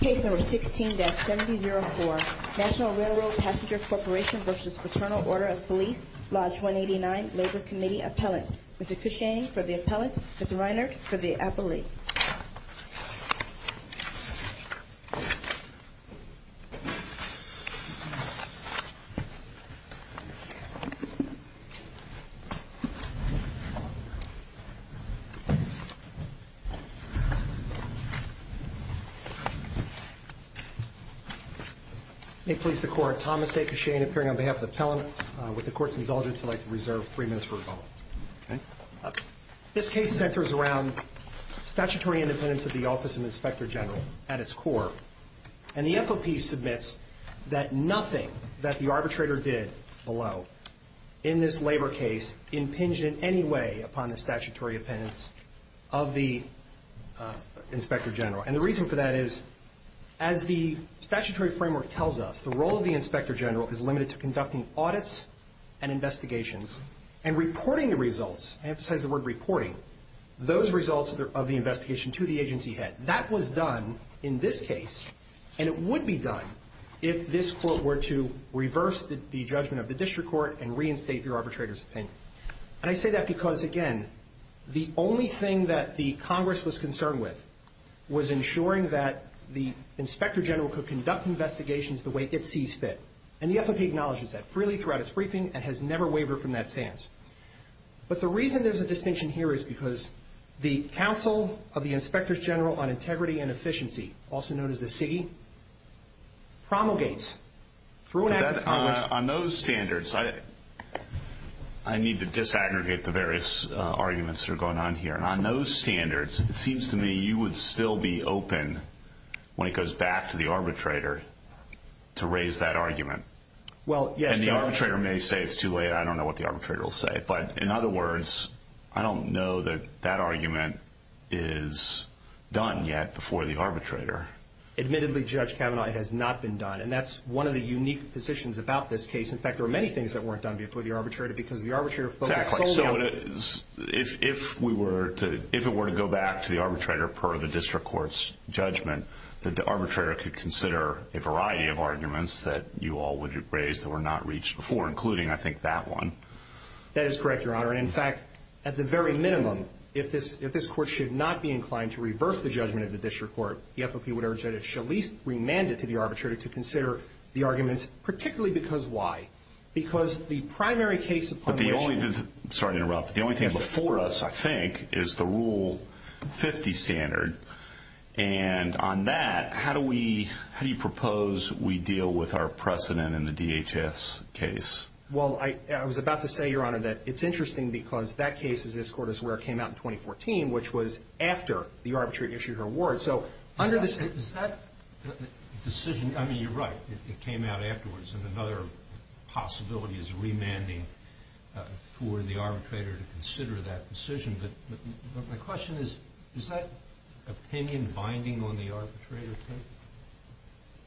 Case No. 16-7004 National Railroad Passenger Corporation v. Fraternal Order of Police, Lodge 189 Labor Committee Appellant Mr. Cushane for the appellant, Mr. Reinert for the appellee May it please the court, Thomas A. Cushane appearing on behalf of the appellant. With the court's indulgence, I'd like to reserve three minutes for rebuttal. This case centers around statutory independence of the Office of the Inspector General at its core, and the FOP submits that nothing that the arbitrator did below in this labor case is impinged in any way upon the statutory independence of the Inspector General. And the reason for that is, as the statutory framework tells us, the role of the Inspector General is limited to conducting audits and investigations and reporting the results, I emphasize the word reporting, those results of the investigation to the agency head. That was done in this case, and it would be done if this court were to reverse the judgment of the district court and reinstate the arbitrator's opinion. And I say that because, again, the only thing that the Congress was concerned with was ensuring that the Inspector General could conduct investigations the way it sees fit. And the FOP acknowledges that freely throughout its briefing and has never wavered from that stance. But the reason there's a distinction here is because the Council of the Inspectors General on Integrity and Efficiency, also known as the CIGI, promulgates through an act of Congress. On those standards, I need to disaggregate the various arguments that are going on here. And on those standards, it seems to me you would still be open when it goes back to the arbitrator to raise that argument. And the arbitrator may say it's too late, I don't know what the arbitrator will say. But in other words, I don't know that that argument is done yet before the arbitrator. Admittedly, Judge Kavanaugh, it has not been done. And that's one of the unique positions about this case. In fact, there were many things that weren't done before the arbitrator because the arbitrator focused solely on… If it were to go back to the arbitrator per the district court's judgment, the arbitrator could consider a variety of arguments that you all would have raised that were not reached before, including, I think, that one. That is correct, Your Honor. And in fact, at the very minimum, if this court should not be inclined to reverse the judgment of the district court, the FOP would urge that it should at least remand it to the arbitrator to consider the arguments, particularly because why? Because the primary case upon which… Sorry to interrupt. The only thing before us, I think, is the Rule 50 standard. And on that, how do we – how do you propose we deal with our precedent in the DHS case? Well, I was about to say, Your Honor, that it's interesting because that case, as this court is aware, came out in 2014, which was after the arbitrator issued her word. Is that decision – I mean, you're right. It came out afterwards, and another possibility is remanding for the arbitrator to consider that decision. But my question is, is that opinion binding on the arbitrator, too?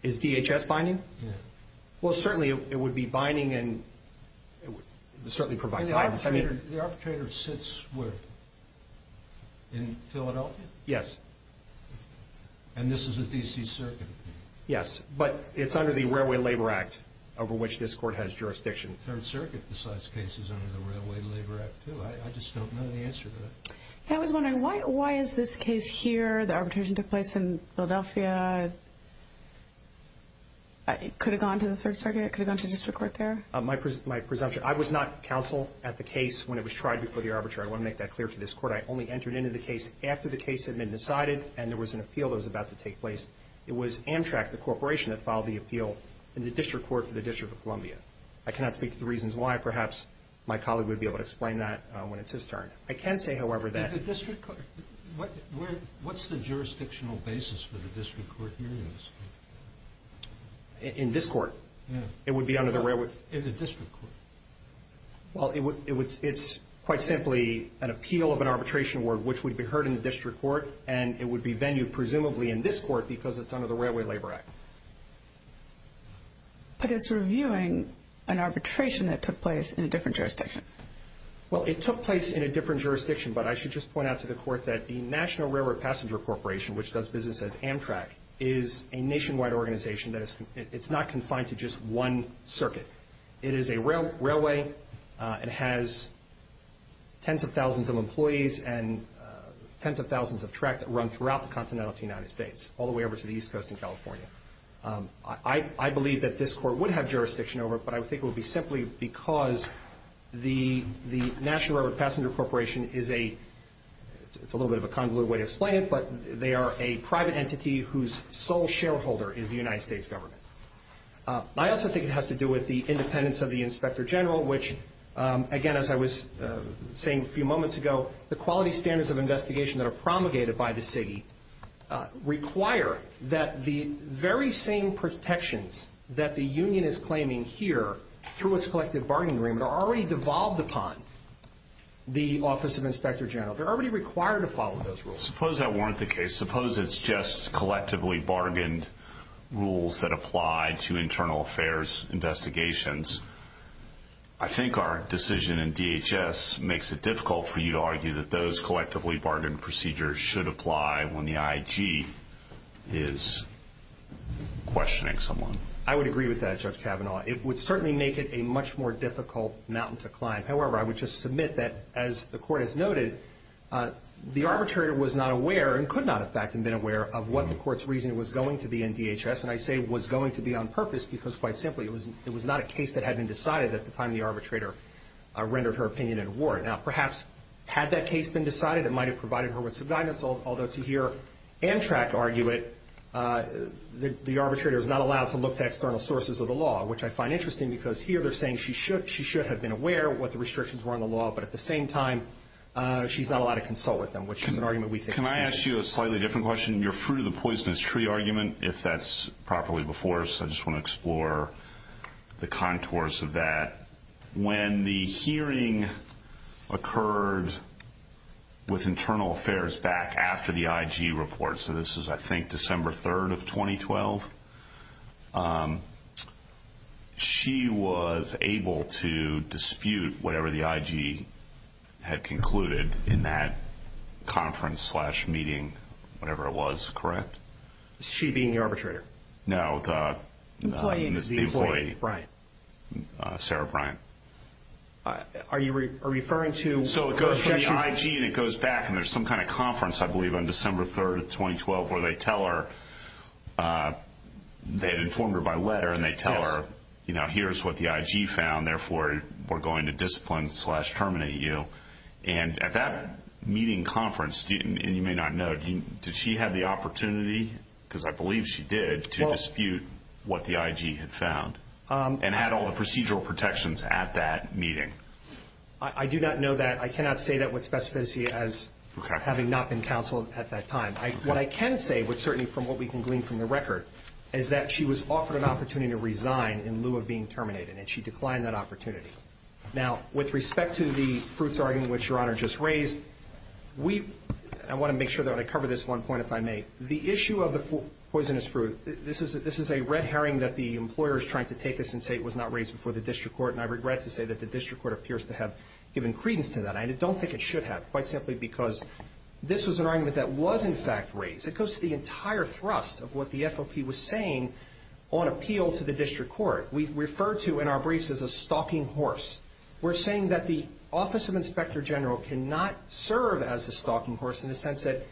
Is DHS binding? Yeah. Well, certainly, it would be binding, and it would certainly provide guidance. The arbitrator sits where? In Philadelphia? Yes. And this is a D.C. circuit? Yes, but it's under the Railway Labor Act, over which this court has jurisdiction. Third Circuit decides cases under the Railway Labor Act, too. I just don't know the answer to that. I was wondering, why is this case here? The arbitration took place in Philadelphia. It could have gone to the Third Circuit. It could have gone to district court there. My presumption – I was not counsel at the case when it was tried before the arbitrator. I want to make that clear to this court. I only entered into the case after the case had been decided, and there was an appeal that was about to take place. It was Amtrak, the corporation, that filed the appeal in the district court for the District of Columbia. I cannot speak to the reasons why. Perhaps my colleague would be able to explain that when it's his turn. I can say, however, that – In the district court? What's the jurisdictional basis for the district court hearing this? In this court? Yeah. It would be under the Railway – In the district court. Well, it's quite simply an appeal of an arbitration award, which would be heard in the district court, and it would be venued presumably in this court because it's under the Railway Labor Act. But it's reviewing an arbitration that took place in a different jurisdiction. Well, it took place in a different jurisdiction, but I should just point out to the court that the National Railroad Passenger Corporation, which does business as Amtrak, is a nationwide organization. It's not confined to just one circuit. It is a railway. It has tens of thousands of employees and tens of thousands of track that run throughout the continental United States, all the way over to the East Coast in California. I believe that this court would have jurisdiction over it, but I think it would be simply because the National Railroad Passenger Corporation is a – it's a little bit of a convoluted way to explain it, but they are a private entity whose sole shareholder is the United States government. I also think it has to do with the independence of the inspector general, which, again, as I was saying a few moments ago, the quality standards of investigation that are promulgated by the city require that the very same protections that the union is claiming here through its collective bargaining agreement are already devolved upon the office of inspector general. They're already required to follow those rules. Suppose that weren't the case. Suppose it's just collectively bargained rules that apply to internal affairs investigations. I think our decision in DHS makes it difficult for you to argue that those collectively bargained procedures should apply when the IG is questioning someone. I would agree with that, Judge Kavanaugh. It would certainly make it a much more difficult mountain to climb. However, I would just submit that, as the court has noted, the arbitrator was not aware and could not, in fact, have been aware of what the court's reasoning was going to be in DHS, and I say was going to be on purpose because, quite simply, it was not a case that had been decided at the time the arbitrator rendered her opinion in a ward. Now, perhaps had that case been decided, it might have provided her with some guidance, although to hear Antrac argue it, the arbitrator is not allowed to look to external sources of the law, which I find interesting because here they're saying she should have been aware of what the restrictions were on the law, but at the same time she's not allowed to consult with them, which is an argument we think is interesting. Can I ask you a slightly different question? Your fruit of the poisonous tree argument, if that's properly before us, I just want to explore the contours of that. When the hearing occurred with internal affairs back after the IG report, so this is, I think, December 3rd of 2012, she was able to dispute whatever the IG had concluded in that conference slash meeting, whatever it was, correct? She being the arbitrator? No, the employee, Sarah Bryant. Are you referring to? So it goes to the IG and it goes back, and there's some kind of conference, I believe, on December 3rd of 2012 where they tell her, they had informed her by letter, and they tell her, you know, here's what the IG found, therefore we're going to discipline slash terminate you. And at that meeting conference, and you may not know, did she have the opportunity, because I believe she did, to dispute what the IG had found and had all the procedural protections at that meeting? I do not know that. I cannot say that with specificity as having not been counsel at that time. What I can say, certainly from what we can glean from the record, is that she was offered an opportunity to resign in lieu of being terminated, and she declined that opportunity. Now, with respect to the fruits argument, which Your Honor just raised, I want to make sure that I cover this one point, if I may. The issue of the poisonous fruit, this is a red herring that the employer is trying to take this and say it was not raised before the district court, and I regret to say that the district court appears to have given credence to that. I don't think it should have, quite simply because this was an argument that was in fact raised. It goes to the entire thrust of what the FOP was saying on appeal to the district court. We refer to, in our briefs, as a stalking horse. We're saying that the Office of Inspector General cannot serve as a stalking horse in the sense that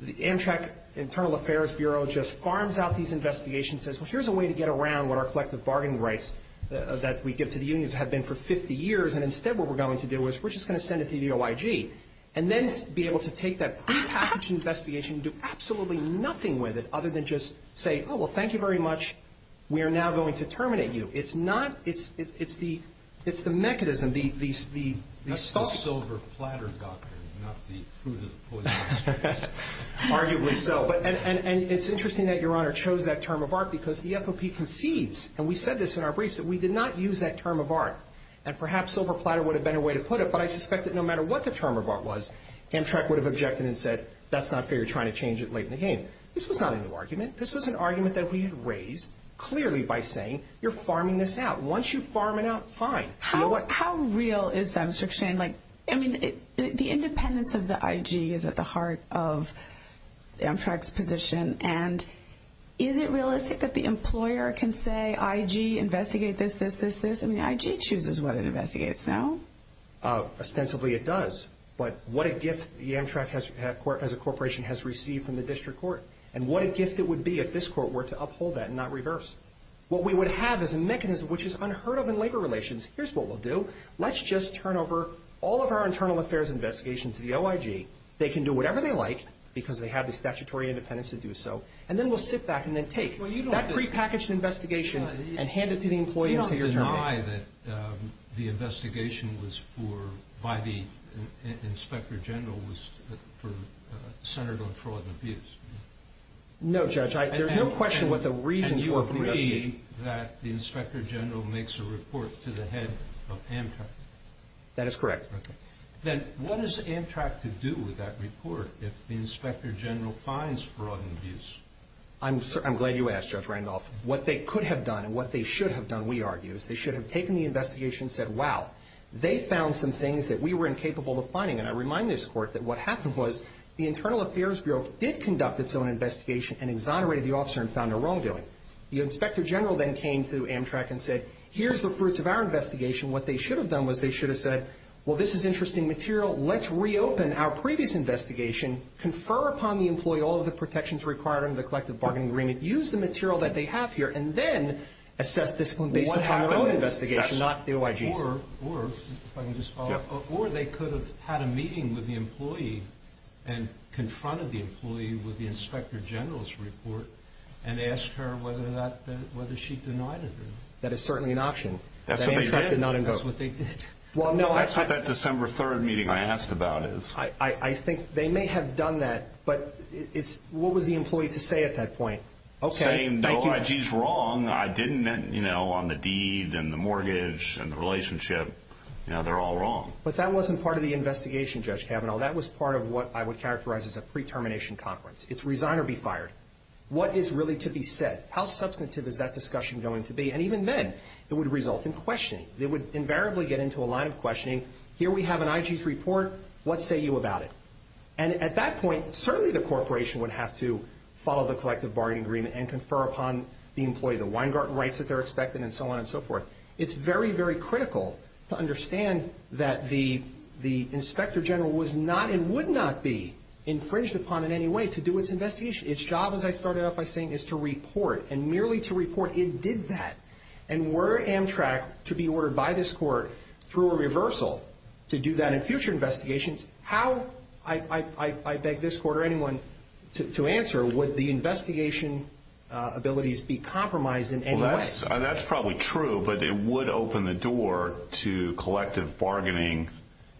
the Amtrak Internal Affairs Bureau just farms out these investigations, says, well, here's a way to get around what our collective bargaining rights that we give to the unions have been for 50 years, and instead what we're going to do is we're just going to send it to the OIG, and then be able to take that prepackaged investigation and do absolutely nothing with it other than just say, oh, well, thank you very much. We are now going to terminate you. It's not. It's the mechanism, the stalking. That's the silver platter doctrine, not the fruit of the poisonous fruit. Arguably so. And it's interesting that Your Honor chose that term of art because the FOP concedes, and we said this in our briefs, that we did not use that term of art, and perhaps silver platter would have been a way to put it, but I suspect that no matter what the term of art was, Amtrak would have objected and said, that's not fair. You're trying to change it late in the game. This was not a new argument. This was an argument that we had raised clearly by saying, you're farming this out. Once you farm it out, fine. How real is that restriction? I mean, the independence of the IG is at the heart of Amtrak's position, and is it realistic that the employer can say, IG, investigate this, this, this, this? I mean, the IG chooses what it investigates, no? Ostensibly it does, but what a gift the Amtrak as a corporation has received from the district court, and what a gift it would be if this court were to uphold that and not reverse. What we would have is a mechanism which is unheard of in labor relations. Here's what we'll do. Let's just turn over all of our internal affairs investigations to the OIG. They can do whatever they like, because they have the statutory independence to do so, and then we'll sit back and then take that prepackaged investigation and hand it to the employee and say you're turning it. You don't deny that the investigation was for, by the inspector general, was centered on fraud and abuse? No, Judge. There's no question what the reasons were for the investigation. And you agree that the inspector general makes a report to the head of Amtrak? That is correct. Okay. Then what does Amtrak to do with that report if the inspector general finds fraud and abuse? I'm glad you asked, Judge Randolph. What they could have done and what they should have done, we argue, is they should have taken the investigation and said, wow, they found some things that we were incapable of finding, and I remind this court that what happened was the Internal Affairs Bureau did conduct its own investigation and exonerated the officer and found a wrongdoing. The inspector general then came to Amtrak and said, here's the fruits of our investigation. What they should have done was they should have said, well, this is interesting material. Let's reopen our previous investigation, confer upon the employee all of the protections required under the collective bargaining agreement, use the material that they have here, and then assess discipline based upon their own investigation, not the OIG's. Or, if I can just follow up, or they could have had a meeting with the employee and confronted the employee with the inspector general's report and asked her whether she denied it or not. That is certainly an option. That's what they did. That Amtrak did not invoke. That's what they did. That's what that December 3rd meeting I asked about is. I think they may have done that, but what was the employee to say at that point? Saying, no, OIG's wrong. I didn't, you know, on the deed and the mortgage and the relationship. You know, they're all wrong. But that wasn't part of the investigation, Judge Kavanaugh. That was part of what I would characterize as a pre-termination conference. It's resign or be fired. What is really to be said? How substantive is that discussion going to be? And even then, it would result in questioning. They would invariably get into a line of questioning. Here we have an IG's report. What say you about it? And at that point, certainly the corporation would have to follow the collective bargaining agreement and confer upon the employee the Weingarten rights that they're expected and so on and so forth. It's very, very critical to understand that the Inspector General was not and would not be infringed upon in any way to do its investigation. Its job, as I started out by saying, is to report and merely to report it did that. And were Amtrak to be ordered by this court through a reversal to do that in future investigations, how, I beg this court or anyone to answer, would the investigation abilities be compromised in any way? That's probably true, but it would open the door to collective bargaining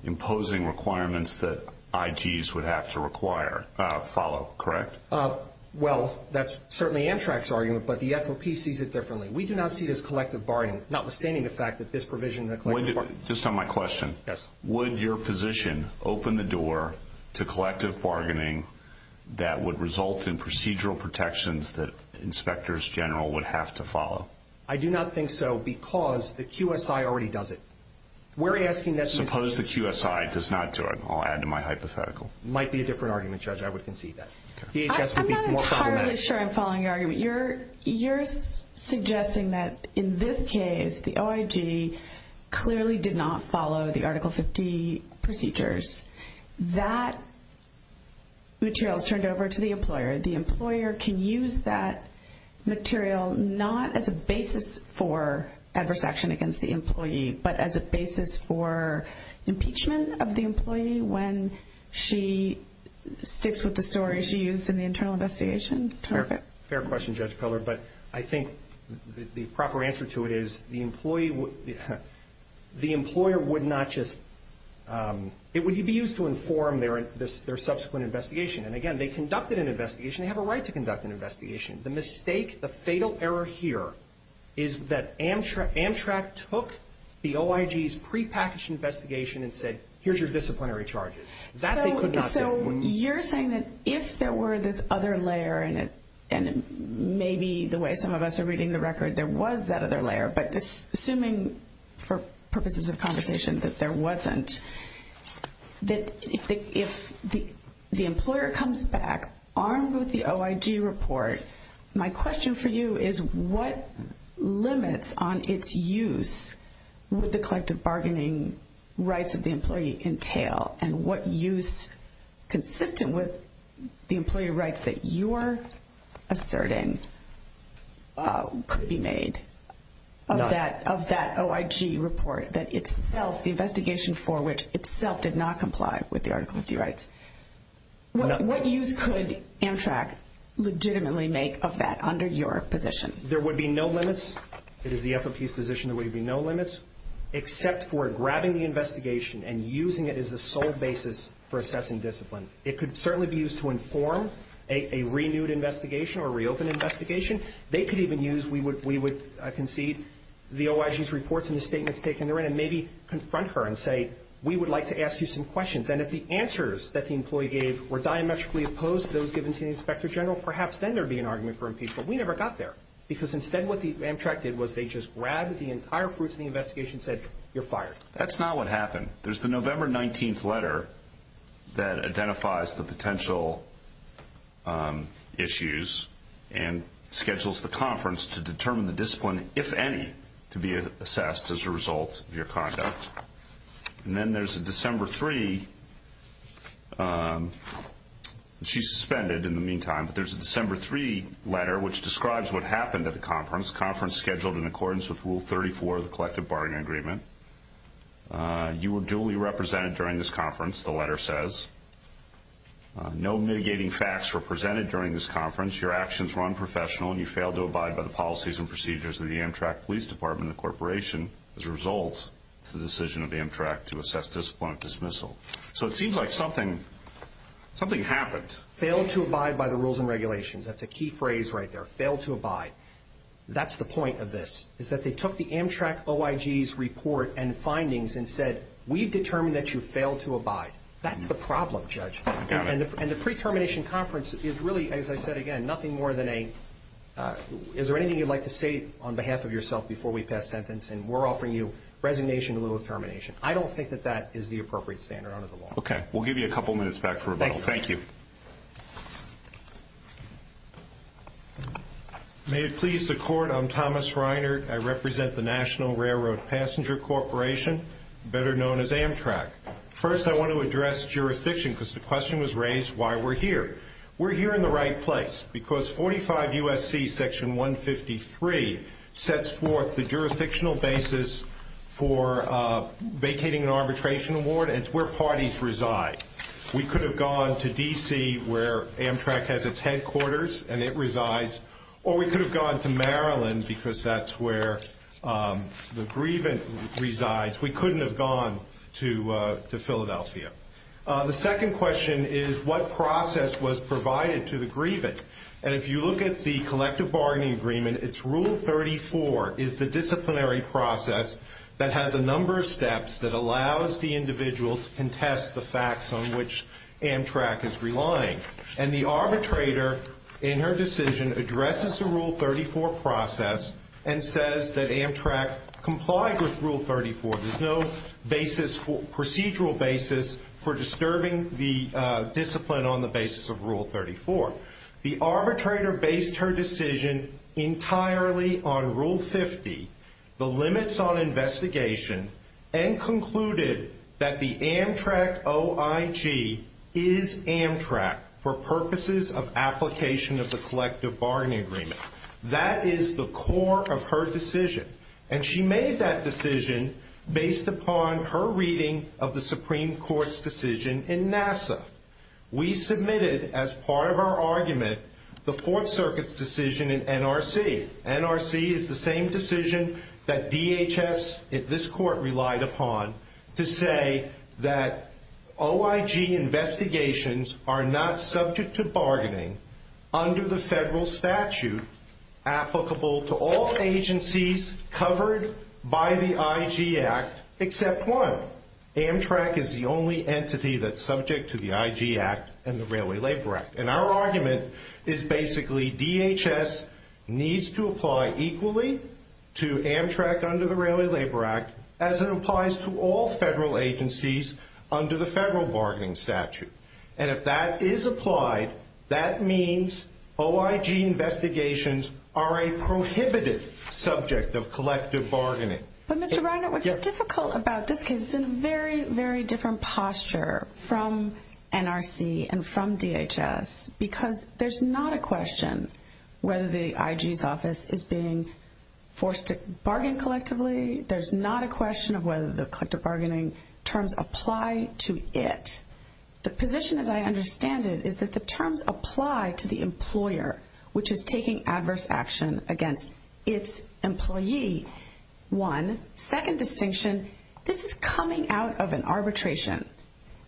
imposing requirements that IGs would have to follow, correct? Well, that's certainly Amtrak's argument, but the FOP sees it differently. We do not see this collective bargaining, notwithstanding the fact that this provision in the collective bargaining. Just on my question. Yes. Would your position open the door to collective bargaining that would result in procedural protections that Inspectors General would have to follow? I do not think so, because the QSI already does it. We're asking that the institution. Suppose the QSI does not do it. I'll add to my hypothetical. Might be a different argument, Judge. I would concede that. I'm not entirely sure I'm following your argument. You're suggesting that in this case, the OIG clearly did not follow the Article 50 procedures. That material is turned over to the employer. The employer can use that material not as a basis for adverse action against the employee, but as a basis for impeachment of the employee when she sticks with the story she used in the internal investigation? Fair question, Judge Peller. But I think the proper answer to it is the employer would not just be used to inform their subsequent investigation. And, again, they conducted an investigation. They have a right to conduct an investigation. The mistake, the fatal error here is that Amtrak took the OIG's prepackaged investigation and said, here's your disciplinary charges. That they could not do. So you're saying that if there were this other layer in it, and maybe the way some of us are reading the record, there was that other layer, but assuming for purposes of conversation that there wasn't, that if the employer comes back armed with the OIG report, my question for you is, what limits on its use would the collective bargaining rights of the employee entail? And what use, consistent with the employee rights that you're asserting, could be made of that OIG report? The investigation for which itself did not comply with the Article 50 rights. What use could Amtrak legitimately make of that under your position? There would be no limits. It is the FOP's position there would be no limits, except for grabbing the investigation and using it as the sole basis for assessing discipline. It could certainly be used to inform a renewed investigation or reopened investigation. They could even use, we would concede the OIG's reports and the statements taken therein, and maybe confront her and say, we would like to ask you some questions. And if the answers that the employee gave were diametrically opposed to those given to the Inspector General, perhaps then there would be an argument for impeachment. We never got there, because instead what Amtrak did was they just grabbed the entire fruits of the investigation and said, you're fired. That's not what happened. There's the November 19th letter that identifies the potential issues and schedules the conference to determine the discipline, if any, to be assessed as a result of your conduct. And then there's a December 3, and she's suspended in the meantime, but there's a December 3 letter which describes what happened at the conference, the conference scheduled in accordance with Rule 34 of the Collective Bargaining Agreement. You were duly represented during this conference, the letter says. No mitigating facts were presented during this conference. Your actions were unprofessional, and you failed to abide by the policies and procedures of the Amtrak Police Department and the Corporation as a result of the decision of Amtrak to assess discipline of dismissal. So it seems like something happened. Failed to abide by the rules and regulations. That's a key phrase right there, failed to abide. That's the point of this, is that they took the Amtrak OIG's report and findings and said, we've determined that you failed to abide. That's the problem, Judge. And the pre-termination conference is really, as I said again, nothing more than a, is there anything you'd like to say on behalf of yourself before we pass sentence, and we're offering you resignation in lieu of termination. I don't think that that is the appropriate standard under the law. Okay. We'll give you a couple minutes back for rebuttal. Thank you. May it please the Court, I'm Thomas Reiner. I represent the National Railroad Passenger Corporation, better known as Amtrak. First, I want to address jurisdiction because the question was raised why we're here. We're here in the right place because 45 U.S.C. Section 153 sets forth the jurisdictional basis for vacating an arbitration award, and it's where parties reside. We could have gone to D.C. where Amtrak has its headquarters and it resides, or we could have gone to Maryland because that's where the grievance resides. We couldn't have gone to Philadelphia. The second question is what process was provided to the grievance, and if you look at the collective bargaining agreement, it's Rule 34 is the disciplinary process that has a number of steps that allows the individual to contest the facts on which Amtrak is relying. And the arbitrator in her decision addresses the Rule 34 process and says that Amtrak complied with Rule 34. There's no procedural basis for disturbing the discipline on the basis of Rule 34. The arbitrator based her decision entirely on Rule 50, the limits on investigation, and concluded that the Amtrak OIG is Amtrak for purposes of application of the collective bargaining agreement. That is the core of her decision, and she made that decision based upon her reading of the Supreme Court's decision in NASA. We submitted as part of our argument the Fourth Circuit's decision in NRC. NRC is the same decision that DHS, this court relied upon, to say that OIG investigations are not subject to bargaining under the federal statute applicable to all agencies covered by the IG Act except one. Amtrak is the only entity that's subject to the IG Act and the Railway Labor Act. And our argument is basically DHS needs to apply equally to Amtrak under the Railway Labor Act as it applies to all federal agencies under the federal bargaining statute. And if that is applied, that means OIG investigations are a prohibited subject of collective bargaining. But Mr. Reiner, what's difficult about this case is it's in a very, very different posture from NRC and from DHS because there's not a question whether the IG's office is being forced to bargain collectively. There's not a question of whether the collective bargaining terms apply to it. The position, as I understand it, is that the terms apply to the employer, which is taking adverse action against its employee. One second distinction, this is coming out of an arbitration.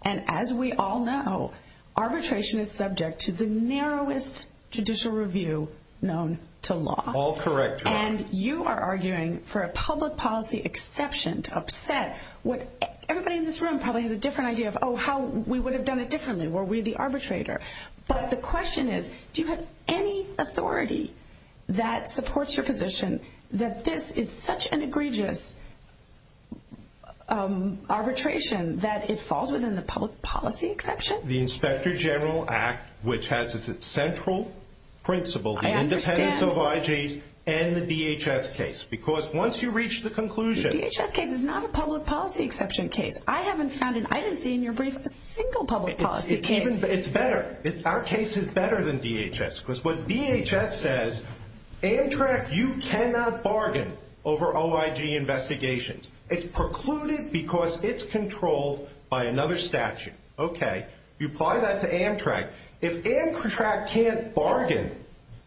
And as we all know, arbitration is subject to the narrowest judicial review known to law. All correct. And you are arguing for a public policy exception to upset what everybody in this room probably has a different idea of, oh, how we would have done it differently were we the arbitrator. But the question is, do you have any authority that supports your position that this is such an egregious arbitration that it falls within the public policy exception? The Inspector General Act, which has as its central principle the independence of OIG and the DHS case. Because once you reach the conclusion – The DHS case is not a public policy exception case. I haven't found it. I didn't see in your brief a single public policy case. It's better. Our case is better than DHS. Because what DHS says, Amtrak, you cannot bargain over OIG investigations. It's precluded because it's controlled by another statute. Okay. You apply that to Amtrak. If Amtrak can't bargain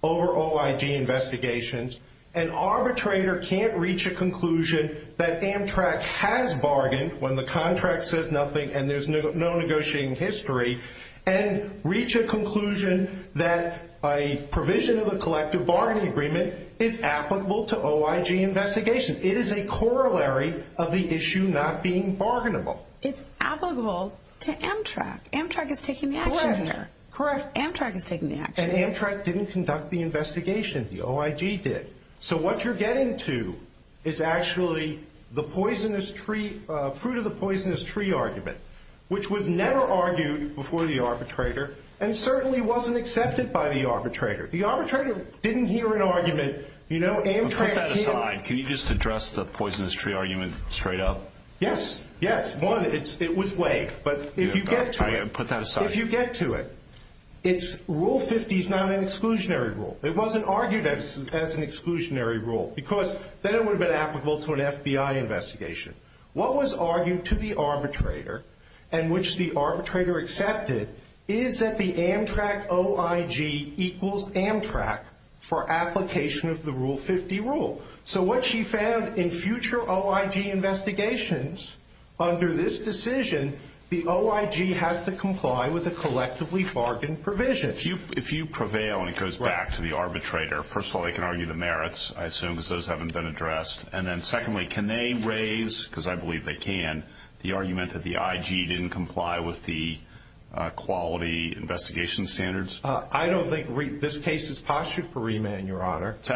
over OIG investigations, an arbitrator can't reach a conclusion that Amtrak has bargained when the contract says nothing and there's no negotiating history and reach a conclusion that a provision of a collective bargaining agreement is applicable to OIG investigations. It is a corollary of the issue not being bargainable. It's applicable to Amtrak. Amtrak is taking the action here. Correct. Amtrak is taking the action here. And Amtrak didn't conduct the investigation. The OIG did. So what you're getting to is actually the fruit of the poisonous tree argument, which was never argued before the arbitrator and certainly wasn't accepted by the arbitrator. The arbitrator didn't hear an argument. Put that aside. Can you just address the poisonous tree argument straight up? Yes. Yes. One, it was laid. Put that aside. If you get to it, Rule 50 is not an exclusionary rule. It wasn't argued as an exclusionary rule because then it would have been applicable to an FBI investigation. What was argued to the arbitrator and which the arbitrator accepted is that the Amtrak OIG equals Amtrak for application of the Rule 50 rule. So what she found in future OIG investigations under this decision, the OIG has to comply with a collectively bargained provision. If you prevail and it goes back to the arbitrator, first of all, they can argue the merits, I assume, because those haven't been addressed. And then secondly, can they raise, because I believe they can, the argument that the IG didn't comply with the quality investigation standards? I don't think this case is postured for remand, Your Honor. It's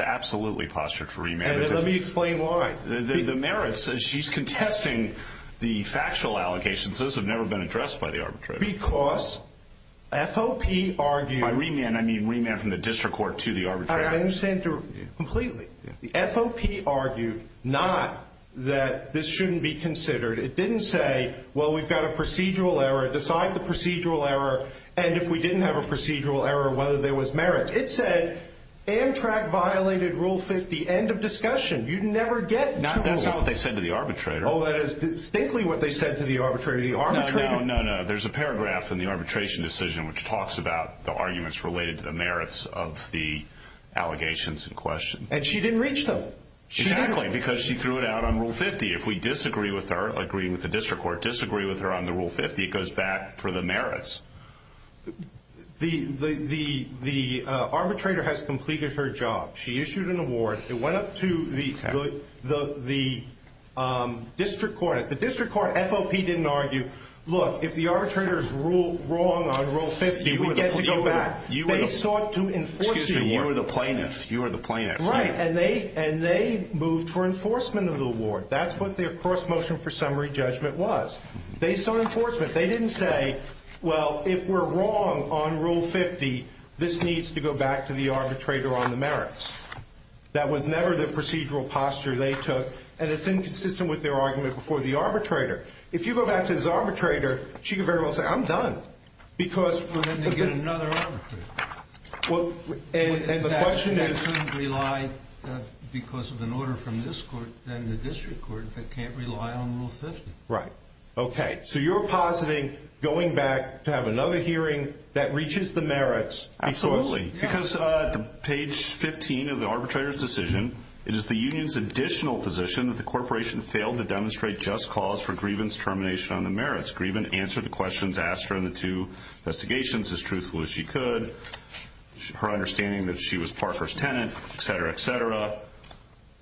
absolutely postured for remand. And let me explain why. The merits, she's contesting the factual allegations. Those have never been addressed by the arbitrator. Because FOP argued. By remand, I mean remand from the district court to the arbitrator. I understand completely. The FOP argued not that this shouldn't be considered. It didn't say, well, we've got a procedural error. Decide the procedural error. And if we didn't have a procedural error, whether there was merit. It said Amtrak violated Rule 50. End of discussion. You'd never get to a rule. That's not what they said to the arbitrator. Oh, that is distinctly what they said to the arbitrator. No, no, no. There's a paragraph in the arbitration decision which talks about the arguments related to the merits of the allegations in question. And she didn't reach them. Exactly. Because she threw it out on Rule 50. If we disagree with her, agreeing with the district court, disagree with her on the Rule 50, it goes back for the merits. The arbitrator has completed her job. She issued an award. It went up to the district court. The district court, FOP didn't argue, look, if the arbitrator is wrong on Rule 50, we get to go back. They sought to enforce the award. Excuse me, you are the plaintiff. You are the plaintiff. Right. And they moved for enforcement of the award. That's what their cross-motion for summary judgment was. Based on enforcement. They didn't say, well, if we're wrong on Rule 50, this needs to go back to the arbitrator on the merits. That was never the procedural posture they took. And it's inconsistent with their argument before the arbitrator. If you go back to this arbitrator, she could very well say, I'm done. Well, then they get another arbitrator. And the question is they can't rely, because of an order from this court, and the district court, they can't rely on Rule 50. Right. Okay. So you're positing going back to have another hearing that reaches the merits. Absolutely. Because page 15 of the arbitrator's decision, it is the union's additional position that the corporation failed to demonstrate just cause for Grievin's termination on the merits. Grievin answered the questions asked during the two investigations as truthful as she could, her understanding that she was Parker's tenant, et cetera, et cetera.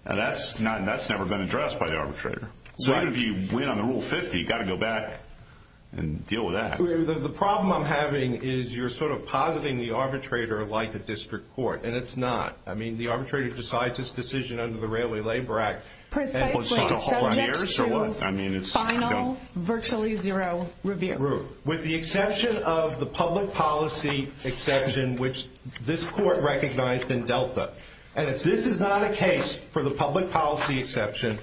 And that's never been addressed by the arbitrator. So even if you win on the Rule 50, you've got to go back and deal with that. The problem I'm having is you're sort of positing the arbitrator like the district court, and it's not. I mean, the arbitrator decides his decision under the Railway Labor Act. Precisely. Subject to final virtually zero review. With the exception of the public policy exception, which this court recognized in Delta. And if this is not a case for the public policy exception,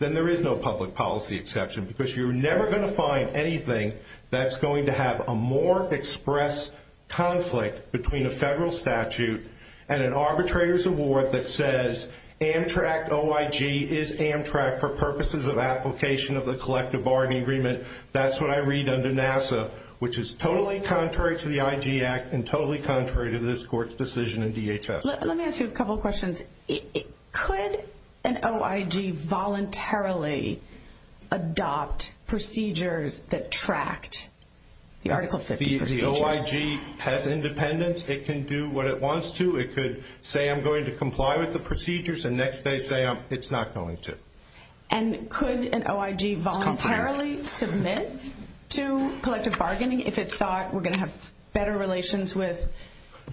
then there is no public policy exception, because you're never going to find anything that's going to have a more express conflict between a federal statute and an arbitrator's award that says Amtrak OIG is Amtrak for purposes of application of the collective bargaining agreement. That's what I read under NASA, which is totally contrary to the IG Act and totally contrary to this court's decision in DHS. Let me ask you a couple of questions. Could an OIG voluntarily adopt procedures that tracked the Article 50 procedures? If the OIG has independence, it can do what it wants to. It could say, I'm going to comply with the procedures, and next they say, it's not going to. And could an OIG voluntarily submit to collective bargaining if it thought we're going to have better relations with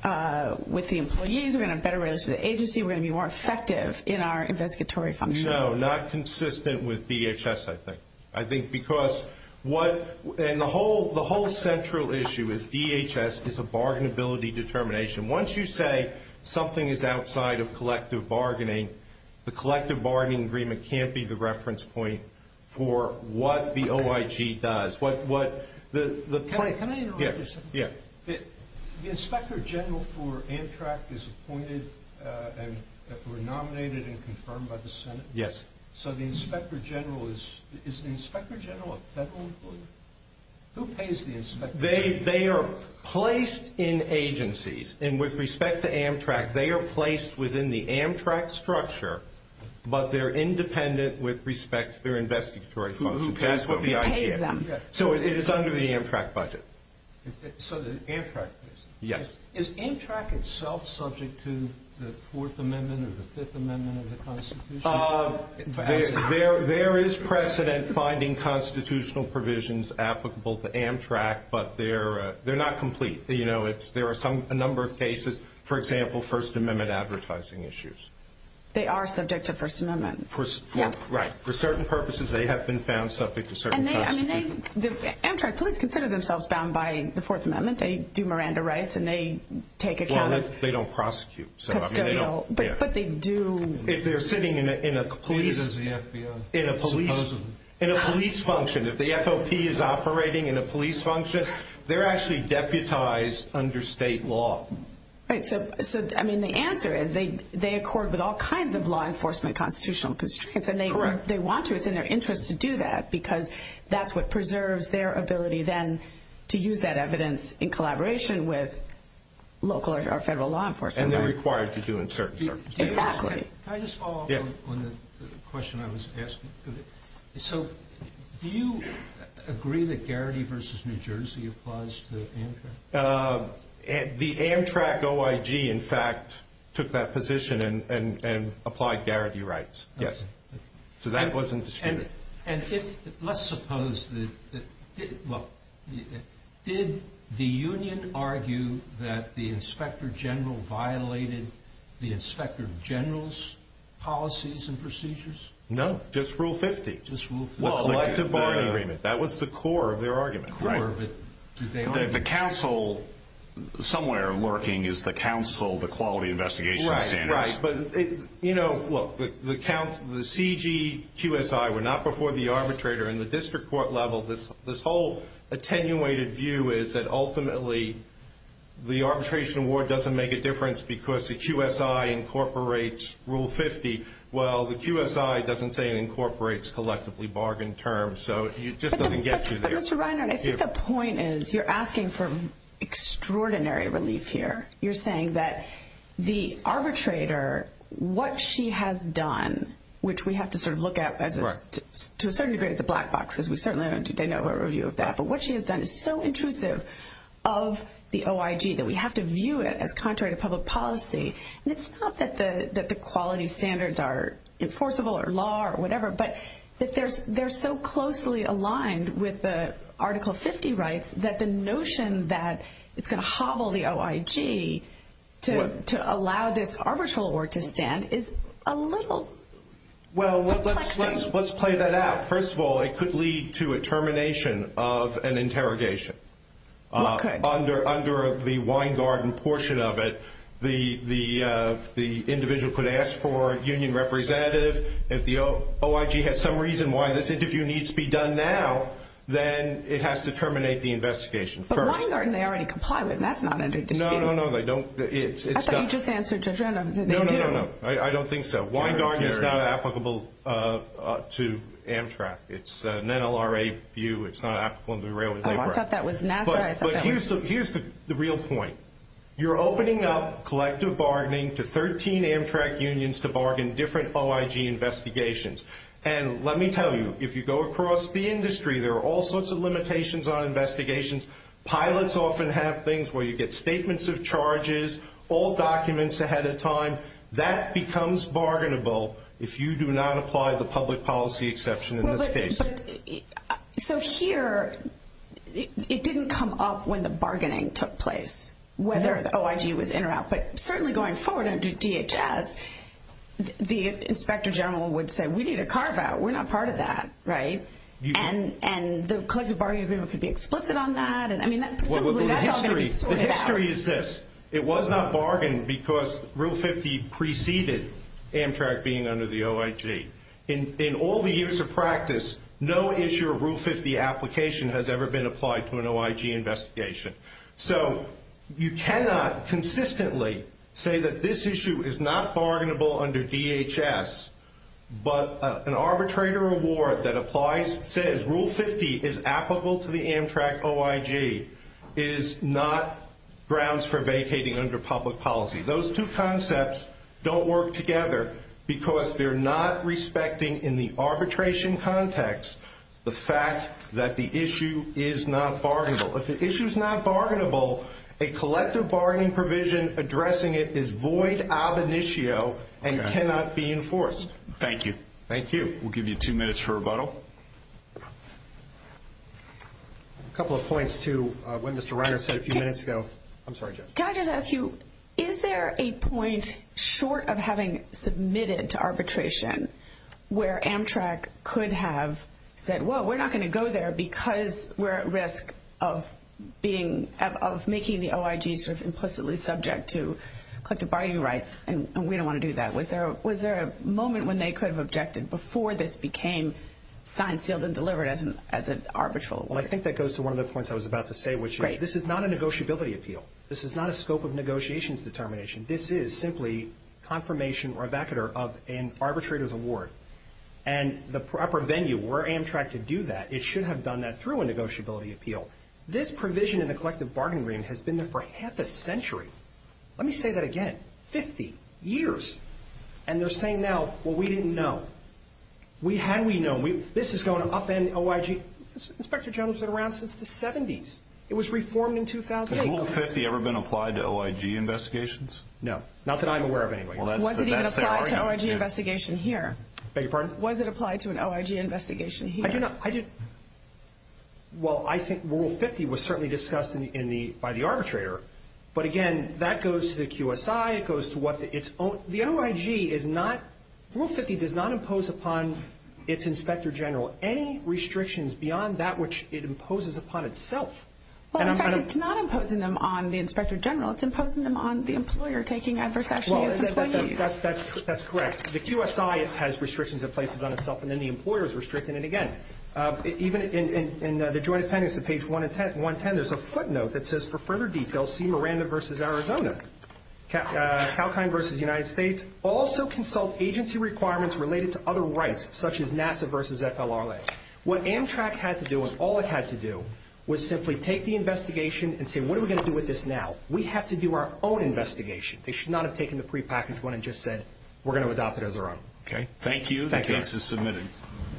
the employees, we're going to have better relations with the agency, we're going to be more effective in our investigatory function? No, not consistent with DHS, I think. And the whole central issue is DHS is a bargainability determination. Once you say something is outside of collective bargaining, the collective bargaining agreement can't be the reference point for what the OIG does. Can I interrupt you for a second? Yeah. The inspector general for Amtrak is appointed and nominated and confirmed by the Senate? Yes. So the inspector general is the inspector general of federal employees? Who pays the inspector general? They are placed in agencies, and with respect to Amtrak, they are placed within the Amtrak structure, but they're independent with respect to their investigatory function. Who pays them? So it is under the Amtrak budget. So the Amtrak is? Yes. Is Amtrak itself subject to the Fourth Amendment or the Fifth Amendment of the Constitution? There is precedent finding constitutional provisions applicable to Amtrak, but they're not complete. There are a number of cases, for example, First Amendment advertising issues. They are subject to First Amendment. Right. For certain purposes, they have been found subject to certain prosecutions. Amtrak, please consider themselves bound by the Fourth Amendment. They do Miranda Rice and they take account. Well, they don't prosecute. But they do. If they're sitting in a police function, if the FOP is operating in a police function, they're actually deputized under state law. Right. So, I mean, the answer is they accord with all kinds of law enforcement constitutional constraints, and they want to. It's in their interest to do that because that's what preserves their ability then to use that evidence in collaboration with local or federal law enforcement. And they're required to do in certain circumstances. Exactly. Can I just follow up on the question I was asking? So, do you agree that Garrity v. New Jersey applies to Amtrak? The Amtrak OIG, in fact, took that position and applied Garrity rights. Yes. So that wasn't disputed. Let's suppose that, well, did the union argue that the inspector general violated the inspector general's policies and procedures? No. Just Rule 50. Just Rule 50. The collective bargaining agreement. That was the core of their argument. The core, but did they argue? The council somewhere lurking is the council, the quality investigation standards. Right, right. You know, look, the CGQSI, we're not before the arbitrator in the district court level. This whole attenuated view is that ultimately the arbitration award doesn't make a difference because the QSI incorporates Rule 50. Well, the QSI doesn't say it incorporates collectively bargained terms, so it just doesn't get you there. But, Mr. Reiner, I think the point is you're asking for extraordinary relief here. You're saying that the arbitrator, what she has done, which we have to sort of look at to a certain degree as a black box, because we certainly don't have a review of that, but what she has done is so intrusive of the OIG that we have to view it as contrary to public policy. And it's not that the quality standards are enforceable or law or whatever, but that they're so closely aligned with the Article 50 rights that the notion that it's going to hobble the OIG to allow this arbitral award to stand is a little perplexing. Well, let's play that out. First of all, it could lead to a termination of an interrogation. What could? Under the Weingarten portion of it, the individual could ask for a union representative. If the OIG has some reason why this interview needs to be done now, then it has to terminate the investigation first. But Weingarten they already comply with, and that's not under dispute. No, no, no, they don't. I thought you just answered Judge Randolph. No, no, no, no. I don't think so. Weingarten is not applicable to Amtrak. It's an NLRA view. It's not applicable under the Railway Labor Act. I thought that was NASA. Here's the real point. You're opening up collective bargaining to 13 Amtrak unions to bargain different OIG investigations. And let me tell you, if you go across the industry, there are all sorts of limitations on investigations. Pilots often have things where you get statements of charges, all documents ahead of time. That becomes bargainable if you do not apply the public policy exception in this case. So here, it didn't come up when the bargaining took place whether the OIG was in or out. But certainly going forward under DHS, the inspector general would say we need a carve-out. We're not part of that, right? And the collective bargaining agreement could be explicit on that. I mean, probably that's all going to be sorted out. The history is this. It was not bargained because Rule 50 preceded Amtrak being under the OIG. In all the years of practice, no issue of Rule 50 application has ever been applied to an OIG investigation. So you cannot consistently say that this issue is not bargainable under DHS, but an arbitrator award that applies, says Rule 50 is applicable to the Amtrak OIG, is not grounds for vacating under public policy. Those two concepts don't work together because they're not respecting in the arbitration context the fact that the issue is not bargainable. If the issue is not bargainable, a collective bargaining provision addressing it is void ab initio and cannot be enforced. Thank you. Thank you. We'll give you two minutes for rebuttal. A couple of points to what Mr. Reiner said a few minutes ago. I'm sorry, Jeff. Can I just ask you, is there a point short of having submitted to arbitration where Amtrak could have said, whoa, we're not going to go there because we're at risk of making the OIG sort of implicitly subject to collective bargaining rights, and we don't want to do that. Was there a moment when they could have objected before this became signed, sealed, and delivered as an arbitral award? Well, I think that goes to one of the points I was about to say, which is this is not a negotiability appeal. This is not a scope of negotiations determination. This is simply confirmation or abacater of an arbitrator's award. And the proper venue where Amtrak could do that, it should have done that through a negotiability appeal. This provision in the collective bargaining agreement has been there for half a century. Let me say that again, 50 years. And they're saying now, well, we didn't know. We had we known. This is going to upend OIG. Inspector General's been around since the 70s. It was reformed in 2008. Has Rule 50 ever been applied to OIG investigations? No. Not that I'm aware of anyway. Was it even applied to an OIG investigation here? Beg your pardon? Was it applied to an OIG investigation here? Well, I think Rule 50 was certainly discussed by the arbitrator. But, again, that goes to the QSI. It goes to what the OIG is not. Rule 50 does not impose upon its Inspector General any restrictions beyond that which it imposes upon itself. Well, in fact, it's not imposing them on the Inspector General. It's imposing them on the employer taking adverse action against employees. That's correct. The QSI has restrictions it places on itself, and then the employer is restricting it again. Even in the Joint Appendix to page 110, there's a footnote that says, for further details, see Miranda v. Arizona. Kalkine v. United States, also consult agency requirements related to other rights, such as NASA v. FLRA. What Amtrak had to do and all it had to do was simply take the investigation and say, what are we going to do with this now? We have to do our own investigation. They should not have taken the prepackaged one and just said, we're going to adopt it as our own. Thank you. The case is submitted.